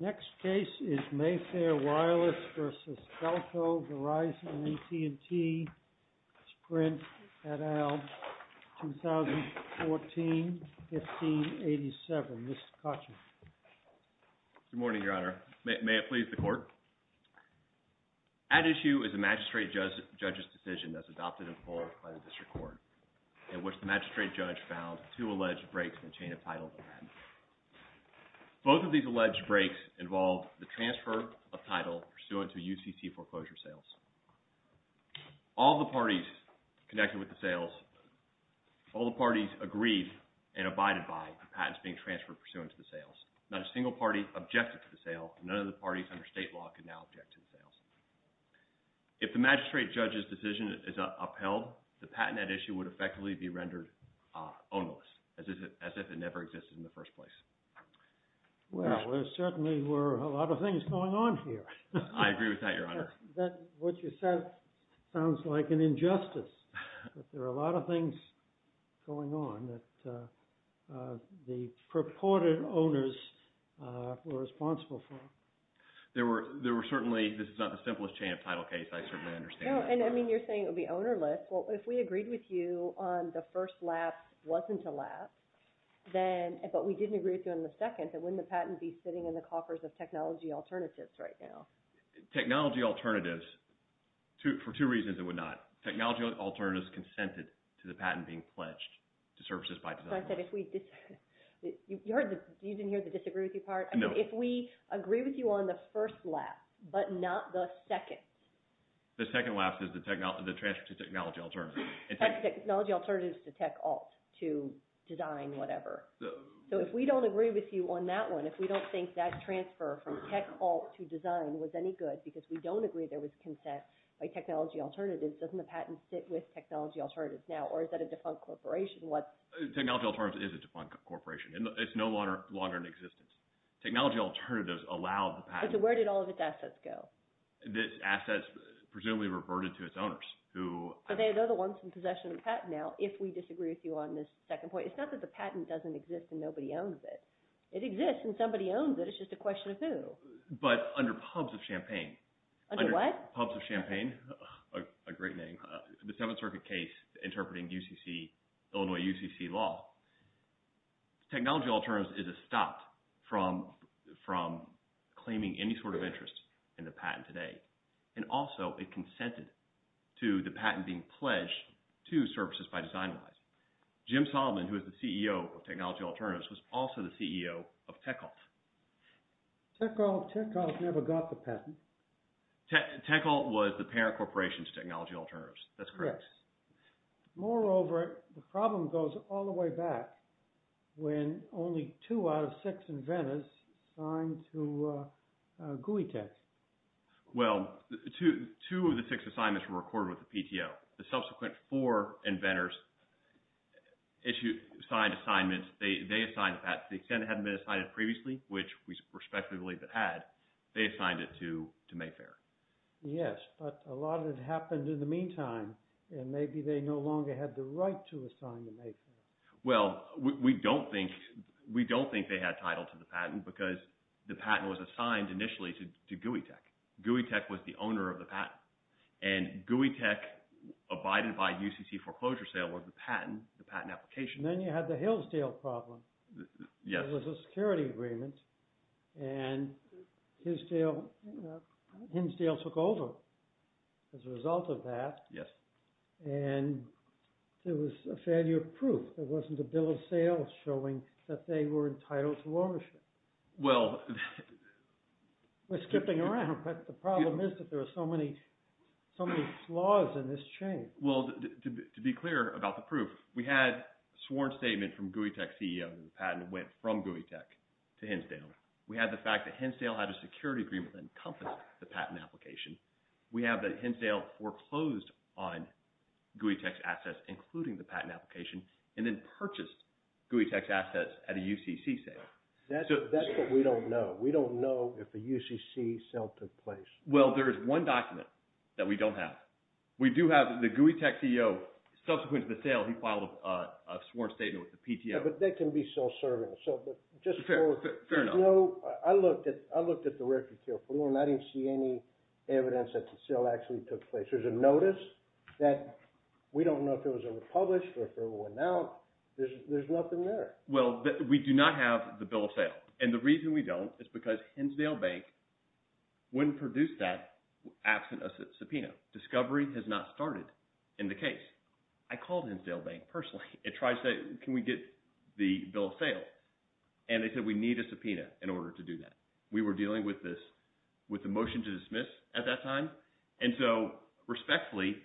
Next case is Mayfair Wireless v. Cellco Verizon AT&T Sprint at ALPS 2014-15 At issue is a magistrate judge's decision that was adopted in full by the district court, in which the magistrate judge found two alleged breaks in the chain of title. Both of these alleged breaks involved the transfer of title pursuant to UCC foreclosure sales. All the parties connected with the sales, all the parties agreed and abided by the patents being transferred pursuant to the sales. Not a single party objected to the sales. None of the parties under state law can now object to the sales. If the magistrate judge's decision is upheld, the patent at issue would effectively be rendered onerous, as if it never existed in the first place. Well, there certainly were a lot of things going on here. I agree with that, Your Honor. That, what you said, sounds like an injustice. There are a lot of things going on that the purported owners were responsible for. There were certainly, this is not the simplest chain of title case, I certainly understand. No, and I mean, you're saying it would be onerous. Well, if we agreed with you on the first lapse wasn't a lapse, but we didn't agree with you on the second, then wouldn't the patent be sitting in the coffers of technology alternatives right now? Technology alternatives, for two reasons it would not. Technology alternatives consented to the patent being pledged to services by design. You didn't hear the disagree with you part? No. If we agree with you on the first lapse, but not the second. The second lapse is the transfer to technology alternatives. Technology alternatives to tech alt, to design whatever. So if we don't agree with you on that one, if we don't think that transfer from tech alt to design was any good, because we don't agree there was consent by technology alternatives, doesn't the patent sit with technology alternatives now? Or is that a defunct corporation? Technology alternatives is a defunct corporation. It's no longer in existence. Technology alternatives allowed the patent. So where did all of its assets go? Assets presumably reverted to its owners. So they're the ones in possession of the patent now, if we disagree with you on this second point. It's not that the patent doesn't exist and nobody owns it. It exists and somebody owns it. It's just a question of who. But under pubs of champagne. Under what? Under pubs of champagne. A great name. The Seventh Circuit case interpreting UCC, Illinois UCC law. Technology alternatives is stopped from claiming any sort of interest in the patent today. And also it consented to the patent being pledged to services by design. Jim Solomon, who is the CEO of technology alternatives, was also the CEO of TechAlt. TechAlt never got the patent. TechAlt was the parent corporation to technology alternatives. That's correct. Moreover, the problem goes all the way back when only two out of six inventors signed to GUI tech. Well, two of the six assignments were recorded with the PTO. The subsequent four inventors signed assignments. They assigned the patent. To the extent it hadn't been assigned previously, which we respectfully believe it had, they assigned it to Mayfair. Yes, but a lot of it happened in the meantime. And maybe they no longer had the right to assign to Mayfair. Well, we don't think they had title to the patent because the patent was assigned initially to GUI tech. GUI tech was the owner of the patent. And GUI tech, abided by UCC foreclosure sale, was the patent application. Then you had the Hillsdale problem. Yes. It was a security agreement. And Hillsdale took over as a result of that. Yes. And there was a failure of proof. There wasn't a bill of sales showing that they were entitled to ownership. We're skipping around, but the problem is that there are so many flaws in this chain. Well, to be clear about the proof, we had a sworn statement from GUI tech CEO that the patent went from GUI tech to Hillsdale. We had the fact that Hillsdale had a security agreement that encompassed the patent application. We have that Hillsdale foreclosed on GUI tech's assets, including the patent application, and then purchased GUI tech's assets at a UCC sale. That's what we don't know. We don't know if a UCC sale took place. Well, there is one document that we don't have. We do have the GUI tech CEO, subsequent to the sale, he filed a sworn statement with the PTO. But that can be self-serving. Fair enough. I looked at the record carefully, and I didn't see any evidence that the sale actually took place. There's a notice that we don't know if it was ever published or if it ever went out. There's nothing there. Well, we do not have the bill of sale. And the reason we don't is because Hillsdale Bank wouldn't produce that absent a subpoena. Discovery has not started in the case. I called Hillsdale Bank personally and tried to say, can we get the bill of sale? And they said we need a subpoena in order to do that. We were dealing with the motion to dismiss at that time. And so respectfully,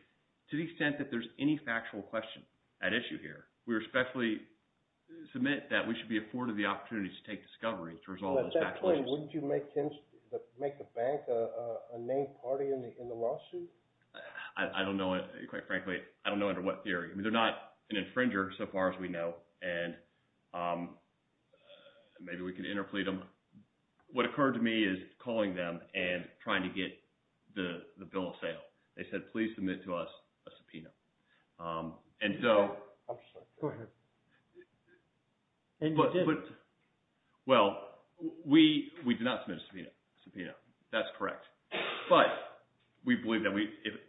to the extent that there's any factual question at issue here, we respectfully submit that we should be afforded the opportunity to take discovery to resolve those factual issues. At that point, wouldn't you make the bank a named party in the lawsuit? I don't know. Quite frankly, I don't know under what theory. They're not an infringer so far as we know. And maybe we can interplead them. What occurred to me is calling them and trying to get the bill of sale. They said, please submit to us a subpoena. Go ahead. Well, we did not submit a subpoena. That's correct. But we believe that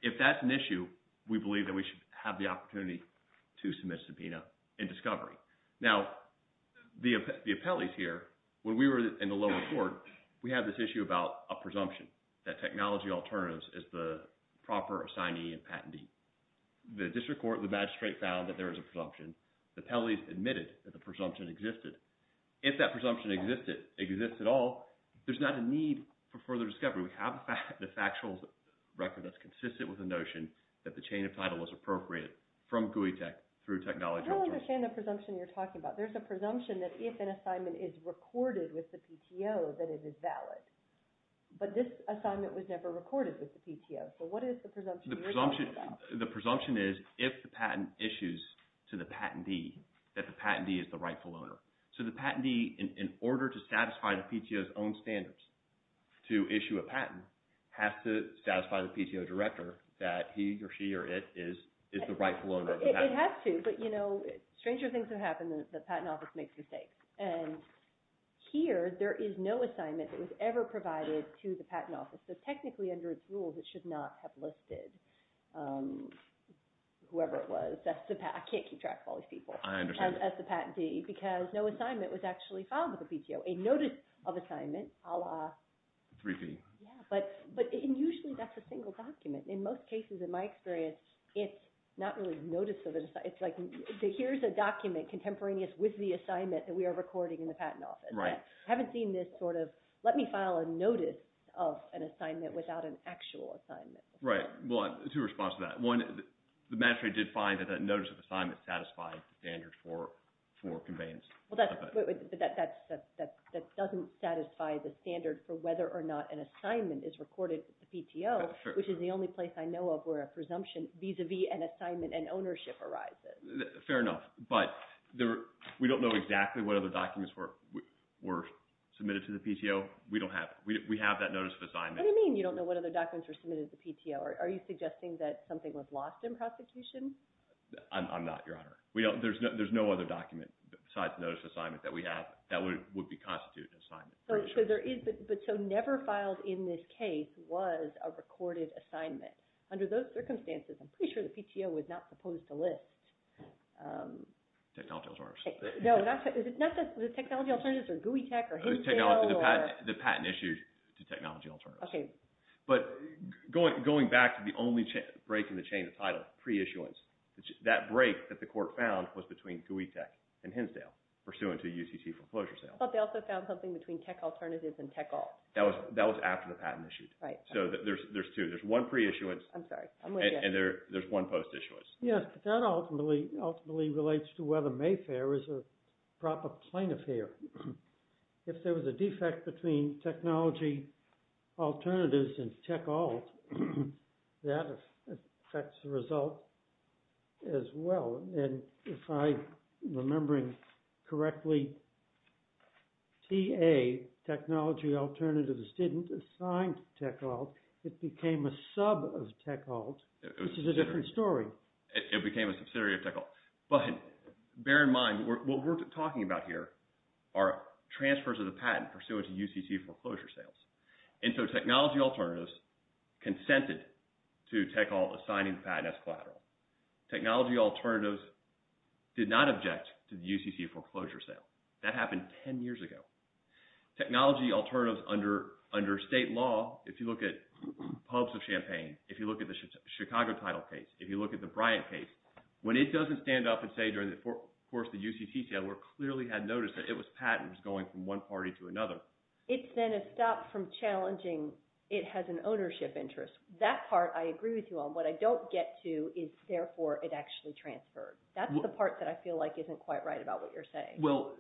if that's an issue, we believe that we should have the opportunity to submit a subpoena in discovery. Now, the appellees here, when we were in the lower court, we had this issue about a presumption, that technology alternatives is the proper assignee and patentee. The district court, the magistrate found that there was a presumption. The appellees admitted that the presumption existed. If that presumption exists at all, there's not a need for further discovery. We have the factual record that's consistent with the notion that the chain of title was appropriated from GUI tech through technology alternatives. I don't understand the presumption you're talking about. There's a presumption that if an assignment is recorded with the PTO, then it is valid. But this assignment was never recorded with the PTO. So what is the presumption you're talking about? The presumption is if the patent issues to the patentee, that the patentee is the rightful owner. So the patentee, in order to satisfy the PTO's own standards to issue a patent, has to satisfy the PTO director that he or she or it is the rightful owner of the patent. It has to. But, you know, stranger things have happened. The patent office makes mistakes. And here, there is no assignment that was ever provided to the patent office. So technically, under its rules, it should not have listed whoever it was. I can't keep track of all these people. I understand. As the patentee, because no assignment was actually filed with the PTO. A notice of assignment, a la 3B. Yeah, but usually that's a single document. In most cases, in my experience, it's not really a notice of an assignment. Here's a document contemporaneous with the assignment that we are recording in the patent office. Right. I haven't seen this sort of, let me file a notice of an assignment without an actual assignment. Right. Well, two responses to that. One, the magistrate did find that that notice of assignment satisfied the standard for conveyance. Well, that doesn't satisfy the standard for whether or not an assignment is recorded with the PTO, which is the only place I know of where a presumption vis-a-vis an assignment and ownership arises. Fair enough. But we don't know exactly what other documents were submitted to the PTO. We have that notice of assignment. What do you mean you don't know what other documents were submitted to the PTO? Are you suggesting that something was lost in prosecution? I'm not, Your Honor. There's no other document besides the notice of assignment that we have that would constitute an assignment. But so never filed in this case was a recorded assignment. Under those circumstances, I'm pretty sure the PTO was not supposed to list. Technology alternatives. No, not the technology alternatives or GUI tech or Hensdale. The patent issued technology alternatives. But going back to the only break in the chain of title, pre-issuance, that break that the court found was between GUI tech and Hensdale pursuant to UCC foreclosure sale. I thought they also found something between tech alternatives and tech alt. That was after the patent issued. Right. So there's two. There's one pre-issuance. I'm sorry. And there's one post-issuance. Yes, but that ultimately relates to whether Mayfair is a proper plaintiff here. If there was a defect between technology alternatives and tech alt, that affects the result as well. And if I'm remembering correctly, TA, technology alternatives, didn't assign tech alt. It became a sub of tech alt, which is a different story. It became a subsidiary of tech alt. But bear in mind, what we're talking about here are transfers of the patent pursuant to UCC foreclosure sales. And so technology alternatives consented to tech alt assigning the patent as collateral. Technology alternatives did not object to the UCC foreclosure sale. That happened 10 years ago. Technology alternatives under state law, if you look at pubs of champagne, if you look at the Chicago title case, if you look at the Bryant case, when it doesn't stand up and say during the course of the UCC sale, we clearly had noticed that it was patents going from one party to another. It's then a stop from challenging it has an ownership interest. That part I agree with you on. What I don't get to is therefore it actually transferred. That's the part that I feel like isn't quite right about what you're saying. Well,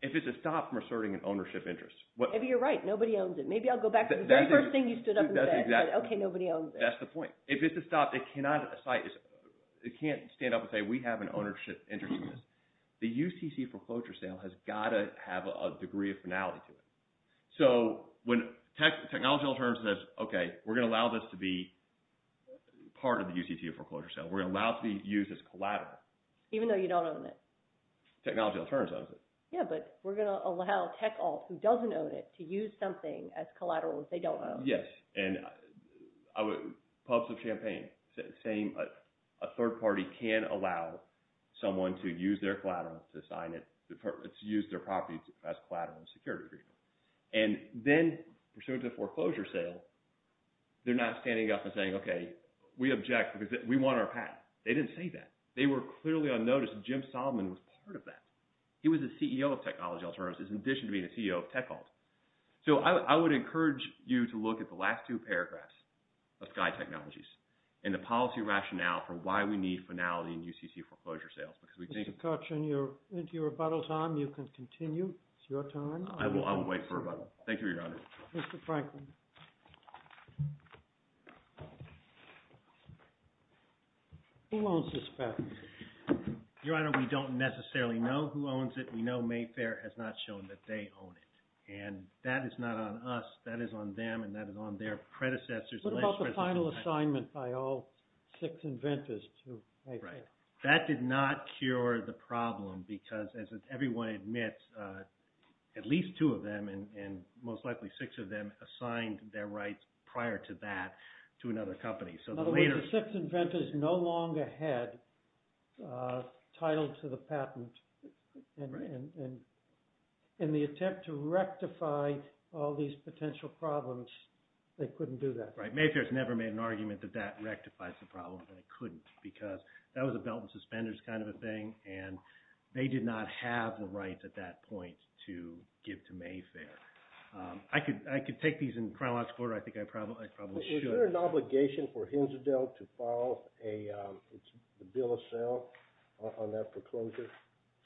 if it's a stop from asserting an ownership interest. Maybe you're right. Nobody owns it. Maybe I'll go back to the very first thing you stood up and said, okay, nobody owns it. That's the point. If it's a stop, it can't stand up and say we have an ownership interest in this. The UCC foreclosure sale has got to have a degree of finality to it. Technology Alternatives says, okay, we're going to allow this to be part of the UCC foreclosure sale. We're going to allow it to be used as collateral. Even though you don't own it? Technology Alternatives owns it. Yeah, but we're going to allow TechAlt, who doesn't own it, to use something as collateral as they don't own it. Yes. And pubs of champagne, a third party can allow someone to use their collateral to sign it, to use their property as collateral and security agreement. And then, pursuant to the foreclosure sale, they're not standing up and saying, okay, we object because we want our patent. They didn't say that. They were clearly on notice that Jim Solomon was part of that. He was the CEO of Technology Alternatives in addition to being the CEO of TechAlt. So I would encourage you to look at the last two paragraphs of Sky Technologies and the policy rationale for why we need finality in UCC foreclosure sales. Mr. Karchin, you're into your rebuttal time. You can continue. It's your turn. I will wait for rebuttal. Thank you, Your Honor. Mr. Franklin. Who owns this patent? Your Honor, we don't necessarily know who owns it. We know Mayfair has not shown that they own it. And that is not on us. That is on them, and that is on their predecessors. What about the final assignment by all six inventors to Mayfair? Right. That did not cure the problem because, as everyone admits, at least two of them, and most likely six of them, assigned their rights prior to that to another company. In other words, the six inventors no longer had title to the patent. Right. And in the attempt to rectify all these potential problems, they couldn't do that. Right. Mayfair has never made an argument that that rectifies the problem, and it couldn't because that was a belt-and-suspenders kind of a thing, and they did not have the right at that point to give to Mayfair. I could take these in Crown Law's court. I think I probably should. Was there an obligation for Hinsedale to file a bill of sale on that foreclosure?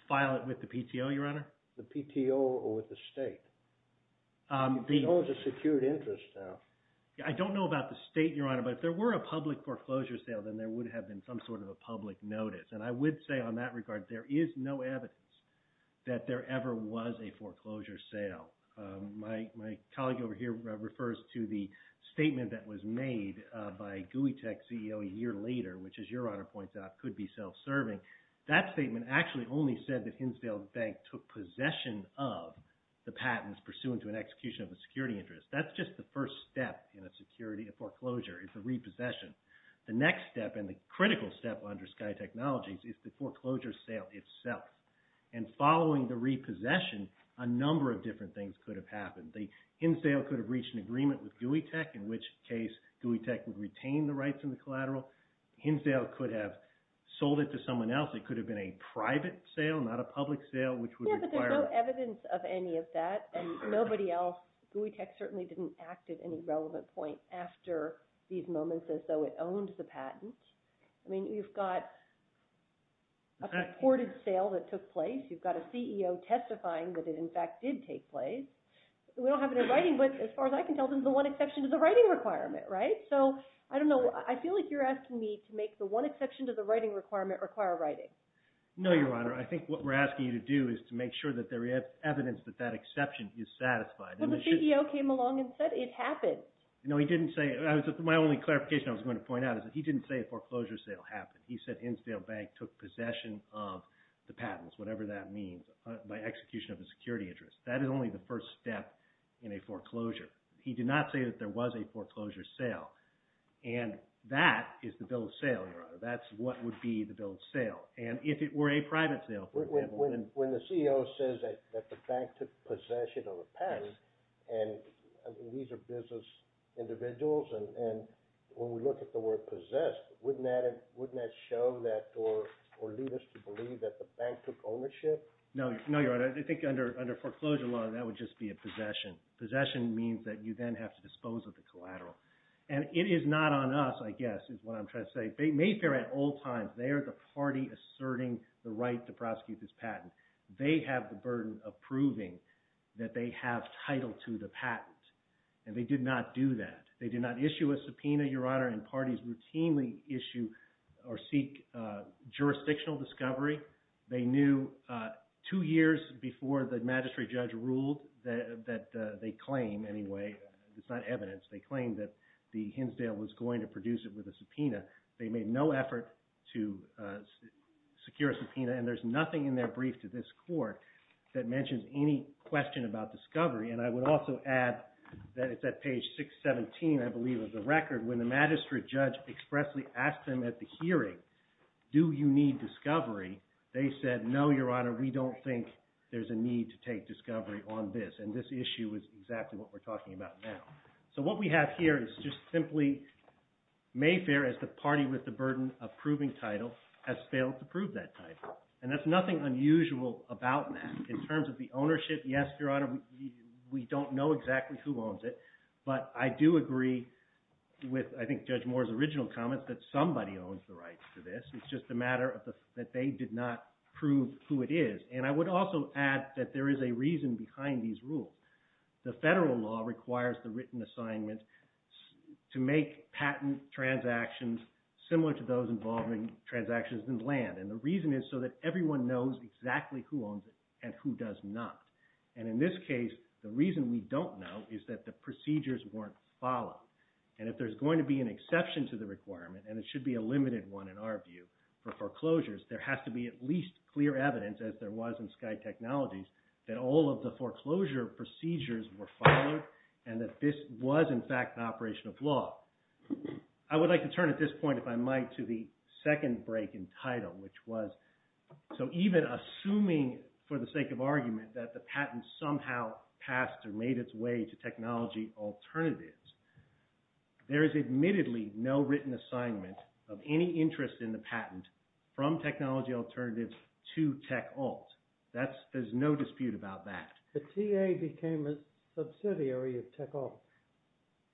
File it with the PTO, Your Honor? The PTO or with the state? There's always a secured interest now. I don't know about the state, Your Honor, but if there were a public foreclosure sale, then there would have been some sort of a public notice. And I would say on that regard there is no evidence that there ever was a foreclosure sale. My colleague over here refers to the statement that was made by GUI Tech CEO a year later, which, as Your Honor points out, could be self-serving. That statement actually only said that Hinsedale Bank took possession of the patents pursuant to an execution of a security interest. That's just the first step in a security foreclosure. It's a repossession. The next step and the critical step under Sky Technologies is the foreclosure sale itself. And following the repossession, a number of different things could have happened. Hinsedale could have reached an agreement with GUI Tech, in which case GUI Tech would retain the rights in the collateral. Hinsedale could have sold it to someone else. It could have been a private sale, not a public sale, which would require— Yeah, but there's no evidence of any of that and nobody else. GUI Tech certainly didn't act at any relevant point after these moments as though it owned the patent. I mean, you've got a supported sale that took place. You've got a CEO testifying that it, in fact, did take place. We don't have any writing, but as far as I can tell, there's the one exception to the writing requirement, right? So I don't know. I feel like you're asking me to make the one exception to the writing requirement require writing. No, Your Honor. I think what we're asking you to do is to make sure that there is evidence that that exception is satisfied. But the CEO came along and said it happened. No, he didn't say—my only clarification I was going to point out is that he didn't say a foreclosure sale happened. He said Hinsedale Bank took possession of the patents, whatever that means, by execution of a security interest. That is only the first step in a foreclosure. He did not say that there was a foreclosure sale. And that is the bill of sale, Your Honor. That's what would be the bill of sale. And if it were a private sale— When the CEO says that the bank took possession of a patent, and these are business individuals, and when we look at the word possessed, wouldn't that show that or lead us to believe that the bank took ownership? No, Your Honor. I think under foreclosure law, that would just be a possession. Possession means that you then have to dispose of the collateral. And it is not on us, I guess, is what I'm trying to say. Mayfair at all times, they are the party asserting the right to prosecute this patent. They have the burden of proving that they have title to the patent, and they did not do that. They did not issue a subpoena, Your Honor, and parties routinely issue or seek jurisdictional discovery. They knew two years before the magistrate judge ruled that they claim, anyway, it's not evidence, they claim that Hinsedale was going to produce it with a subpoena. They made no effort to secure a subpoena, and there's nothing in their brief to this court that mentions any question about discovery. And I would also add that it's at page 617, I believe, of the record, when the magistrate judge expressly asked them at the hearing, do you need discovery, they said, no, Your Honor, we don't think there's a need to take discovery on this. And this issue is exactly what we're talking about now. So what we have here is just simply Mayfair as the party with the burden of proving title has failed to prove that title, and there's nothing unusual about that. In terms of the ownership, yes, Your Honor, we don't know exactly who owns it, but I do agree with, I think, Judge Moore's original comments that somebody owns the rights to this. It's just a matter that they did not prove who it is. And I would also add that there is a reason behind these rules. The federal law requires the written assignment to make patent transactions similar to those involving transactions in land. And the reason is so that everyone knows exactly who owns it and who does not. And in this case, the reason we don't know is that the procedures weren't followed. And if there's going to be an exception to the requirement, and it should be a limited one in our view for foreclosures, there has to be at least clear evidence, as there was in Sky Technologies, that all of the foreclosure procedures were followed and that this was, in fact, an operation of law. I would like to turn at this point, if I might, to the second break in title, which was, so even assuming for the sake of argument that the patent somehow passed or made its way to technology alternatives, there is admittedly no written assignment of any interest in the patent from technology alternatives to TechAlt. There's no dispute about that. The TA became a subsidiary of TechAlt.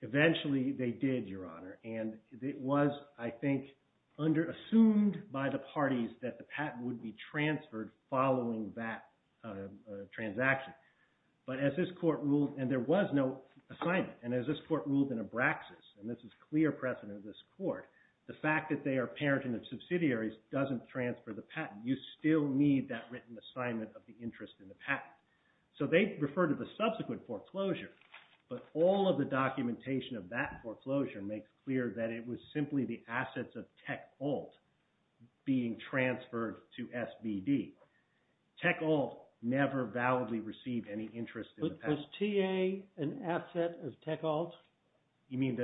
Eventually, they did, Your Honor. And it was, I think, assumed by the parties that the patent would be transferred following that transaction. But as this court ruled, and there was no assignment, and as this court ruled in Abraxas, and this is clear precedent of this court, the fact that they are parenting of subsidiaries doesn't transfer the patent. You still need that written assignment of the interest in the patent. So they refer to the subsequent foreclosure. But all of the documentation of that foreclosure makes clear that it was simply the assets of TechAlt being transferred to SBD. TechAlt never validly received any interest in the patent. But was TA an asset of TechAlt? You mean,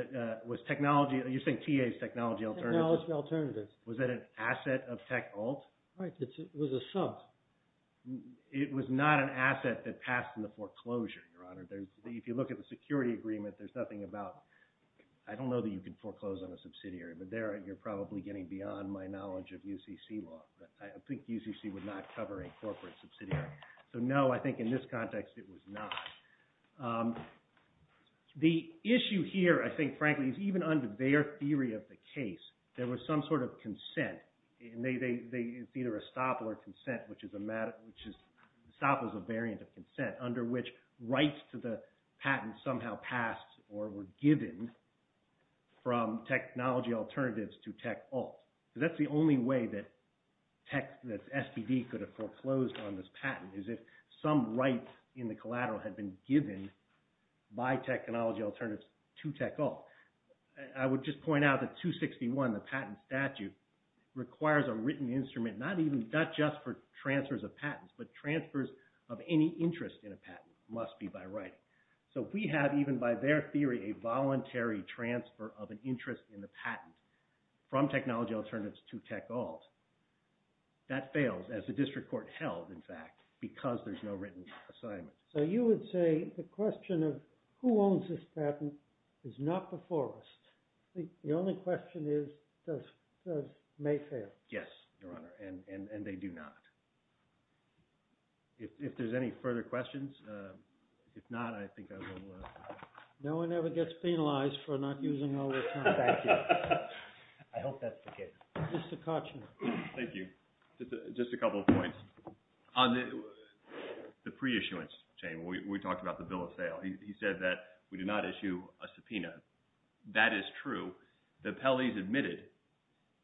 was technology, you're saying TA's technology alternatives? Technology alternatives. Was it an asset of TechAlt? Right, it was a sub. It was not an asset that passed in the foreclosure, Your Honor. If you look at the security agreement, there's nothing about, I don't know that you can foreclose on a subsidiary, but there you're probably getting beyond my knowledge of UCC law. But I think UCC would not cover a corporate subsidiary. So no, I think in this context, it was not. The issue here, I think, frankly, is even under their theory of the case, there was some sort of consent. It's either a stop or a consent, which is a matter of, stop is a variant of consent, under which rights to the patent somehow passed or were given from technology alternatives to TechAlt. That's the only way that STD could have foreclosed on this patent, is if some rights in the collateral had been given by technology alternatives to TechAlt. I would just point out that 261, the patent statute, requires a written instrument, not just for transfers of patents, but transfers of any interest in a patent must be by writing. So we have, even by their theory, a voluntary transfer of an interest in the patent from technology alternatives to TechAlt. That fails, as the district court held, in fact, because there's no written assignment. So you would say the question of who owns this patent is not before us. The only question is, does Mayfair? Yes, Your Honor, and they do not. If there's any further questions, if not, I think I will. No one ever gets penalized for not using a written statute. I hope that's the case. Mr. Karchner. Thank you. Just a couple of points. On the pre-issuance chain, we talked about the bill of sale. He said that we do not issue a subpoena. That is true. The appellees admitted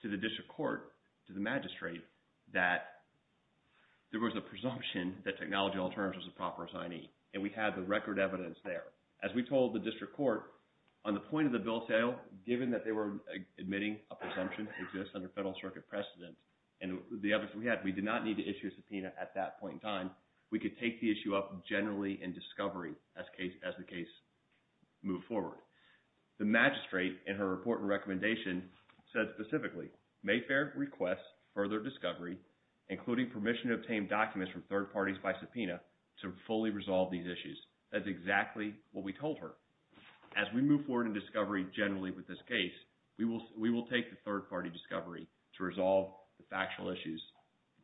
to the district court, to the magistrate, that there was a presumption that technology alternatives was a proper assignee, and we had the record evidence there. As we told the district court, on the point of the bill of sale, given that they were admitting a presumption exists under federal circuit precedent, and the evidence we had, we did not need to issue a subpoena at that point in time. We could take the issue up generally in discovery as the case moved forward. The magistrate, in her report and recommendation, said specifically, Mayfair requests further discovery, including permission to obtain documents from third parties by subpoena, to fully resolve these issues. That's exactly what we told her. As we move forward in discovery generally with this case, we will take the third-party discovery to resolve the factual issues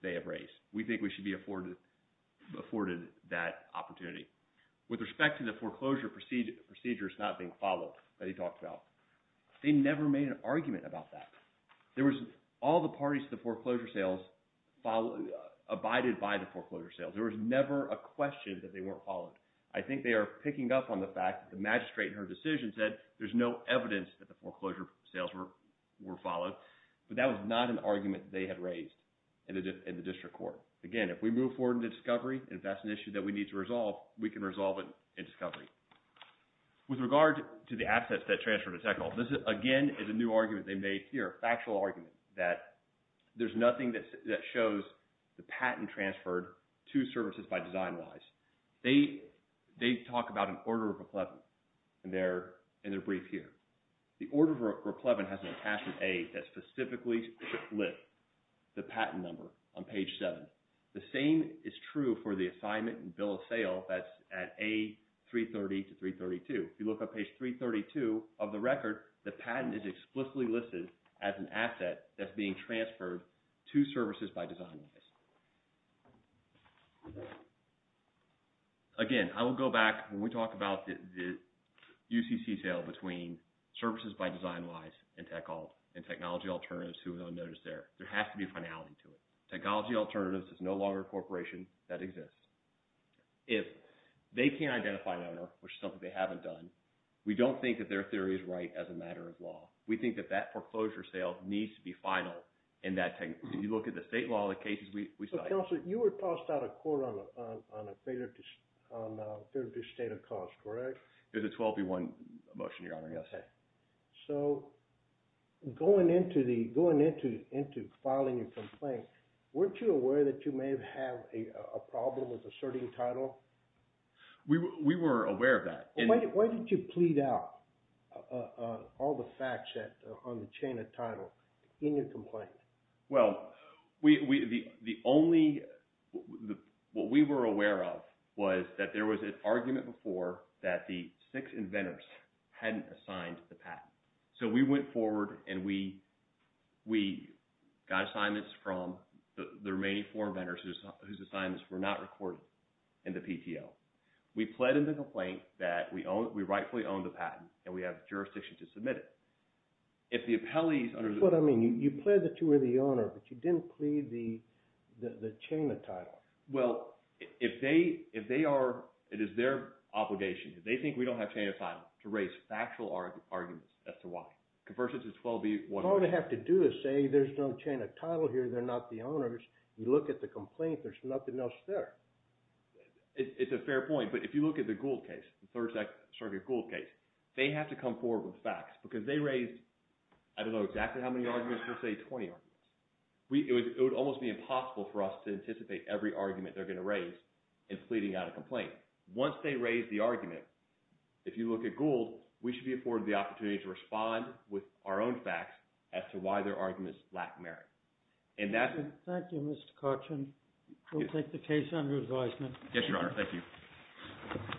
they have raised. We think we should be afforded that opportunity. With respect to the foreclosure procedures not being followed that he talked about, they never made an argument about that. All the parties to the foreclosure sales abided by the foreclosure sales. There was never a question that they weren't followed. I think they are picking up on the fact that the magistrate, in her decision, said there's no evidence that the foreclosure sales were followed, but that was not an argument they had raised in the district court. Again, if we move forward into discovery, and if that's an issue that we need to resolve, we can resolve it in discovery. With regard to the assets that transferred to Tech Hall, this, again, is a new argument they made here, a factual argument, that there's nothing that shows the patent transferred to services by design-wise. They talk about an order of replevant in their brief here. The order of replevant has an attachment A that specifically lists the patent number on page 7. The same is true for the assignment and bill of sale that's at A330-332. If you look on page 332 of the record, the patent is explicitly listed as an asset that's being transferred to services by design-wise. Again, I will go back when we talk about the UCC sale between services by design-wise in Tech Hall and technology alternatives who are noticed there. There has to be a finality to it. Technology alternatives is no longer a corporation that exists. If they can't identify an owner, which is something they haven't done, we don't think that their theory is right as a matter of law. We think that that foreclosure sale needs to be final. If you look at the state law, the cases we cite. Counselor, you were tossed out of court on a failure to state a cause, correct? There's a 12-1 motion, Your Honor. Okay. Going into filing a complaint, weren't you aware that you may have a problem with asserting title? We were aware of that. Why didn't you plead out all the facts on the chain of title in your complaint? Well, what we were aware of was that there was an argument before that the six inventors hadn't assigned the patent. So we went forward and we got assignments from the remaining four inventors whose assignments were not recorded in the PTO. We pled in the complaint that we rightfully own the patent and we have jurisdiction to submit it. What I mean, you pled that you were the owner, but you didn't plead the chain of title. Well, if they are, it is their obligation. They think we don't have chain of title to raise factual arguments as to why. Conversely to 12-1. All they have to do is say there's no chain of title here, they're not the owners. You look at the complaint, there's nothing else there. It's a fair point. But if you look at the Gould case, the Third Circuit Gould case, they have to come forward with facts because they raised, I don't know exactly how many arguments, let's say 20 arguments. It would almost be impossible for us to anticipate every argument they're going to raise in pleading out a complaint. Once they raise the argument, if you look at Gould, we should be afforded the opportunity to respond with our own facts as to why their arguments lack merit. Thank you, Mr. Karchin. We'll take the case under advisement. Yes, Your Honor. Thank you.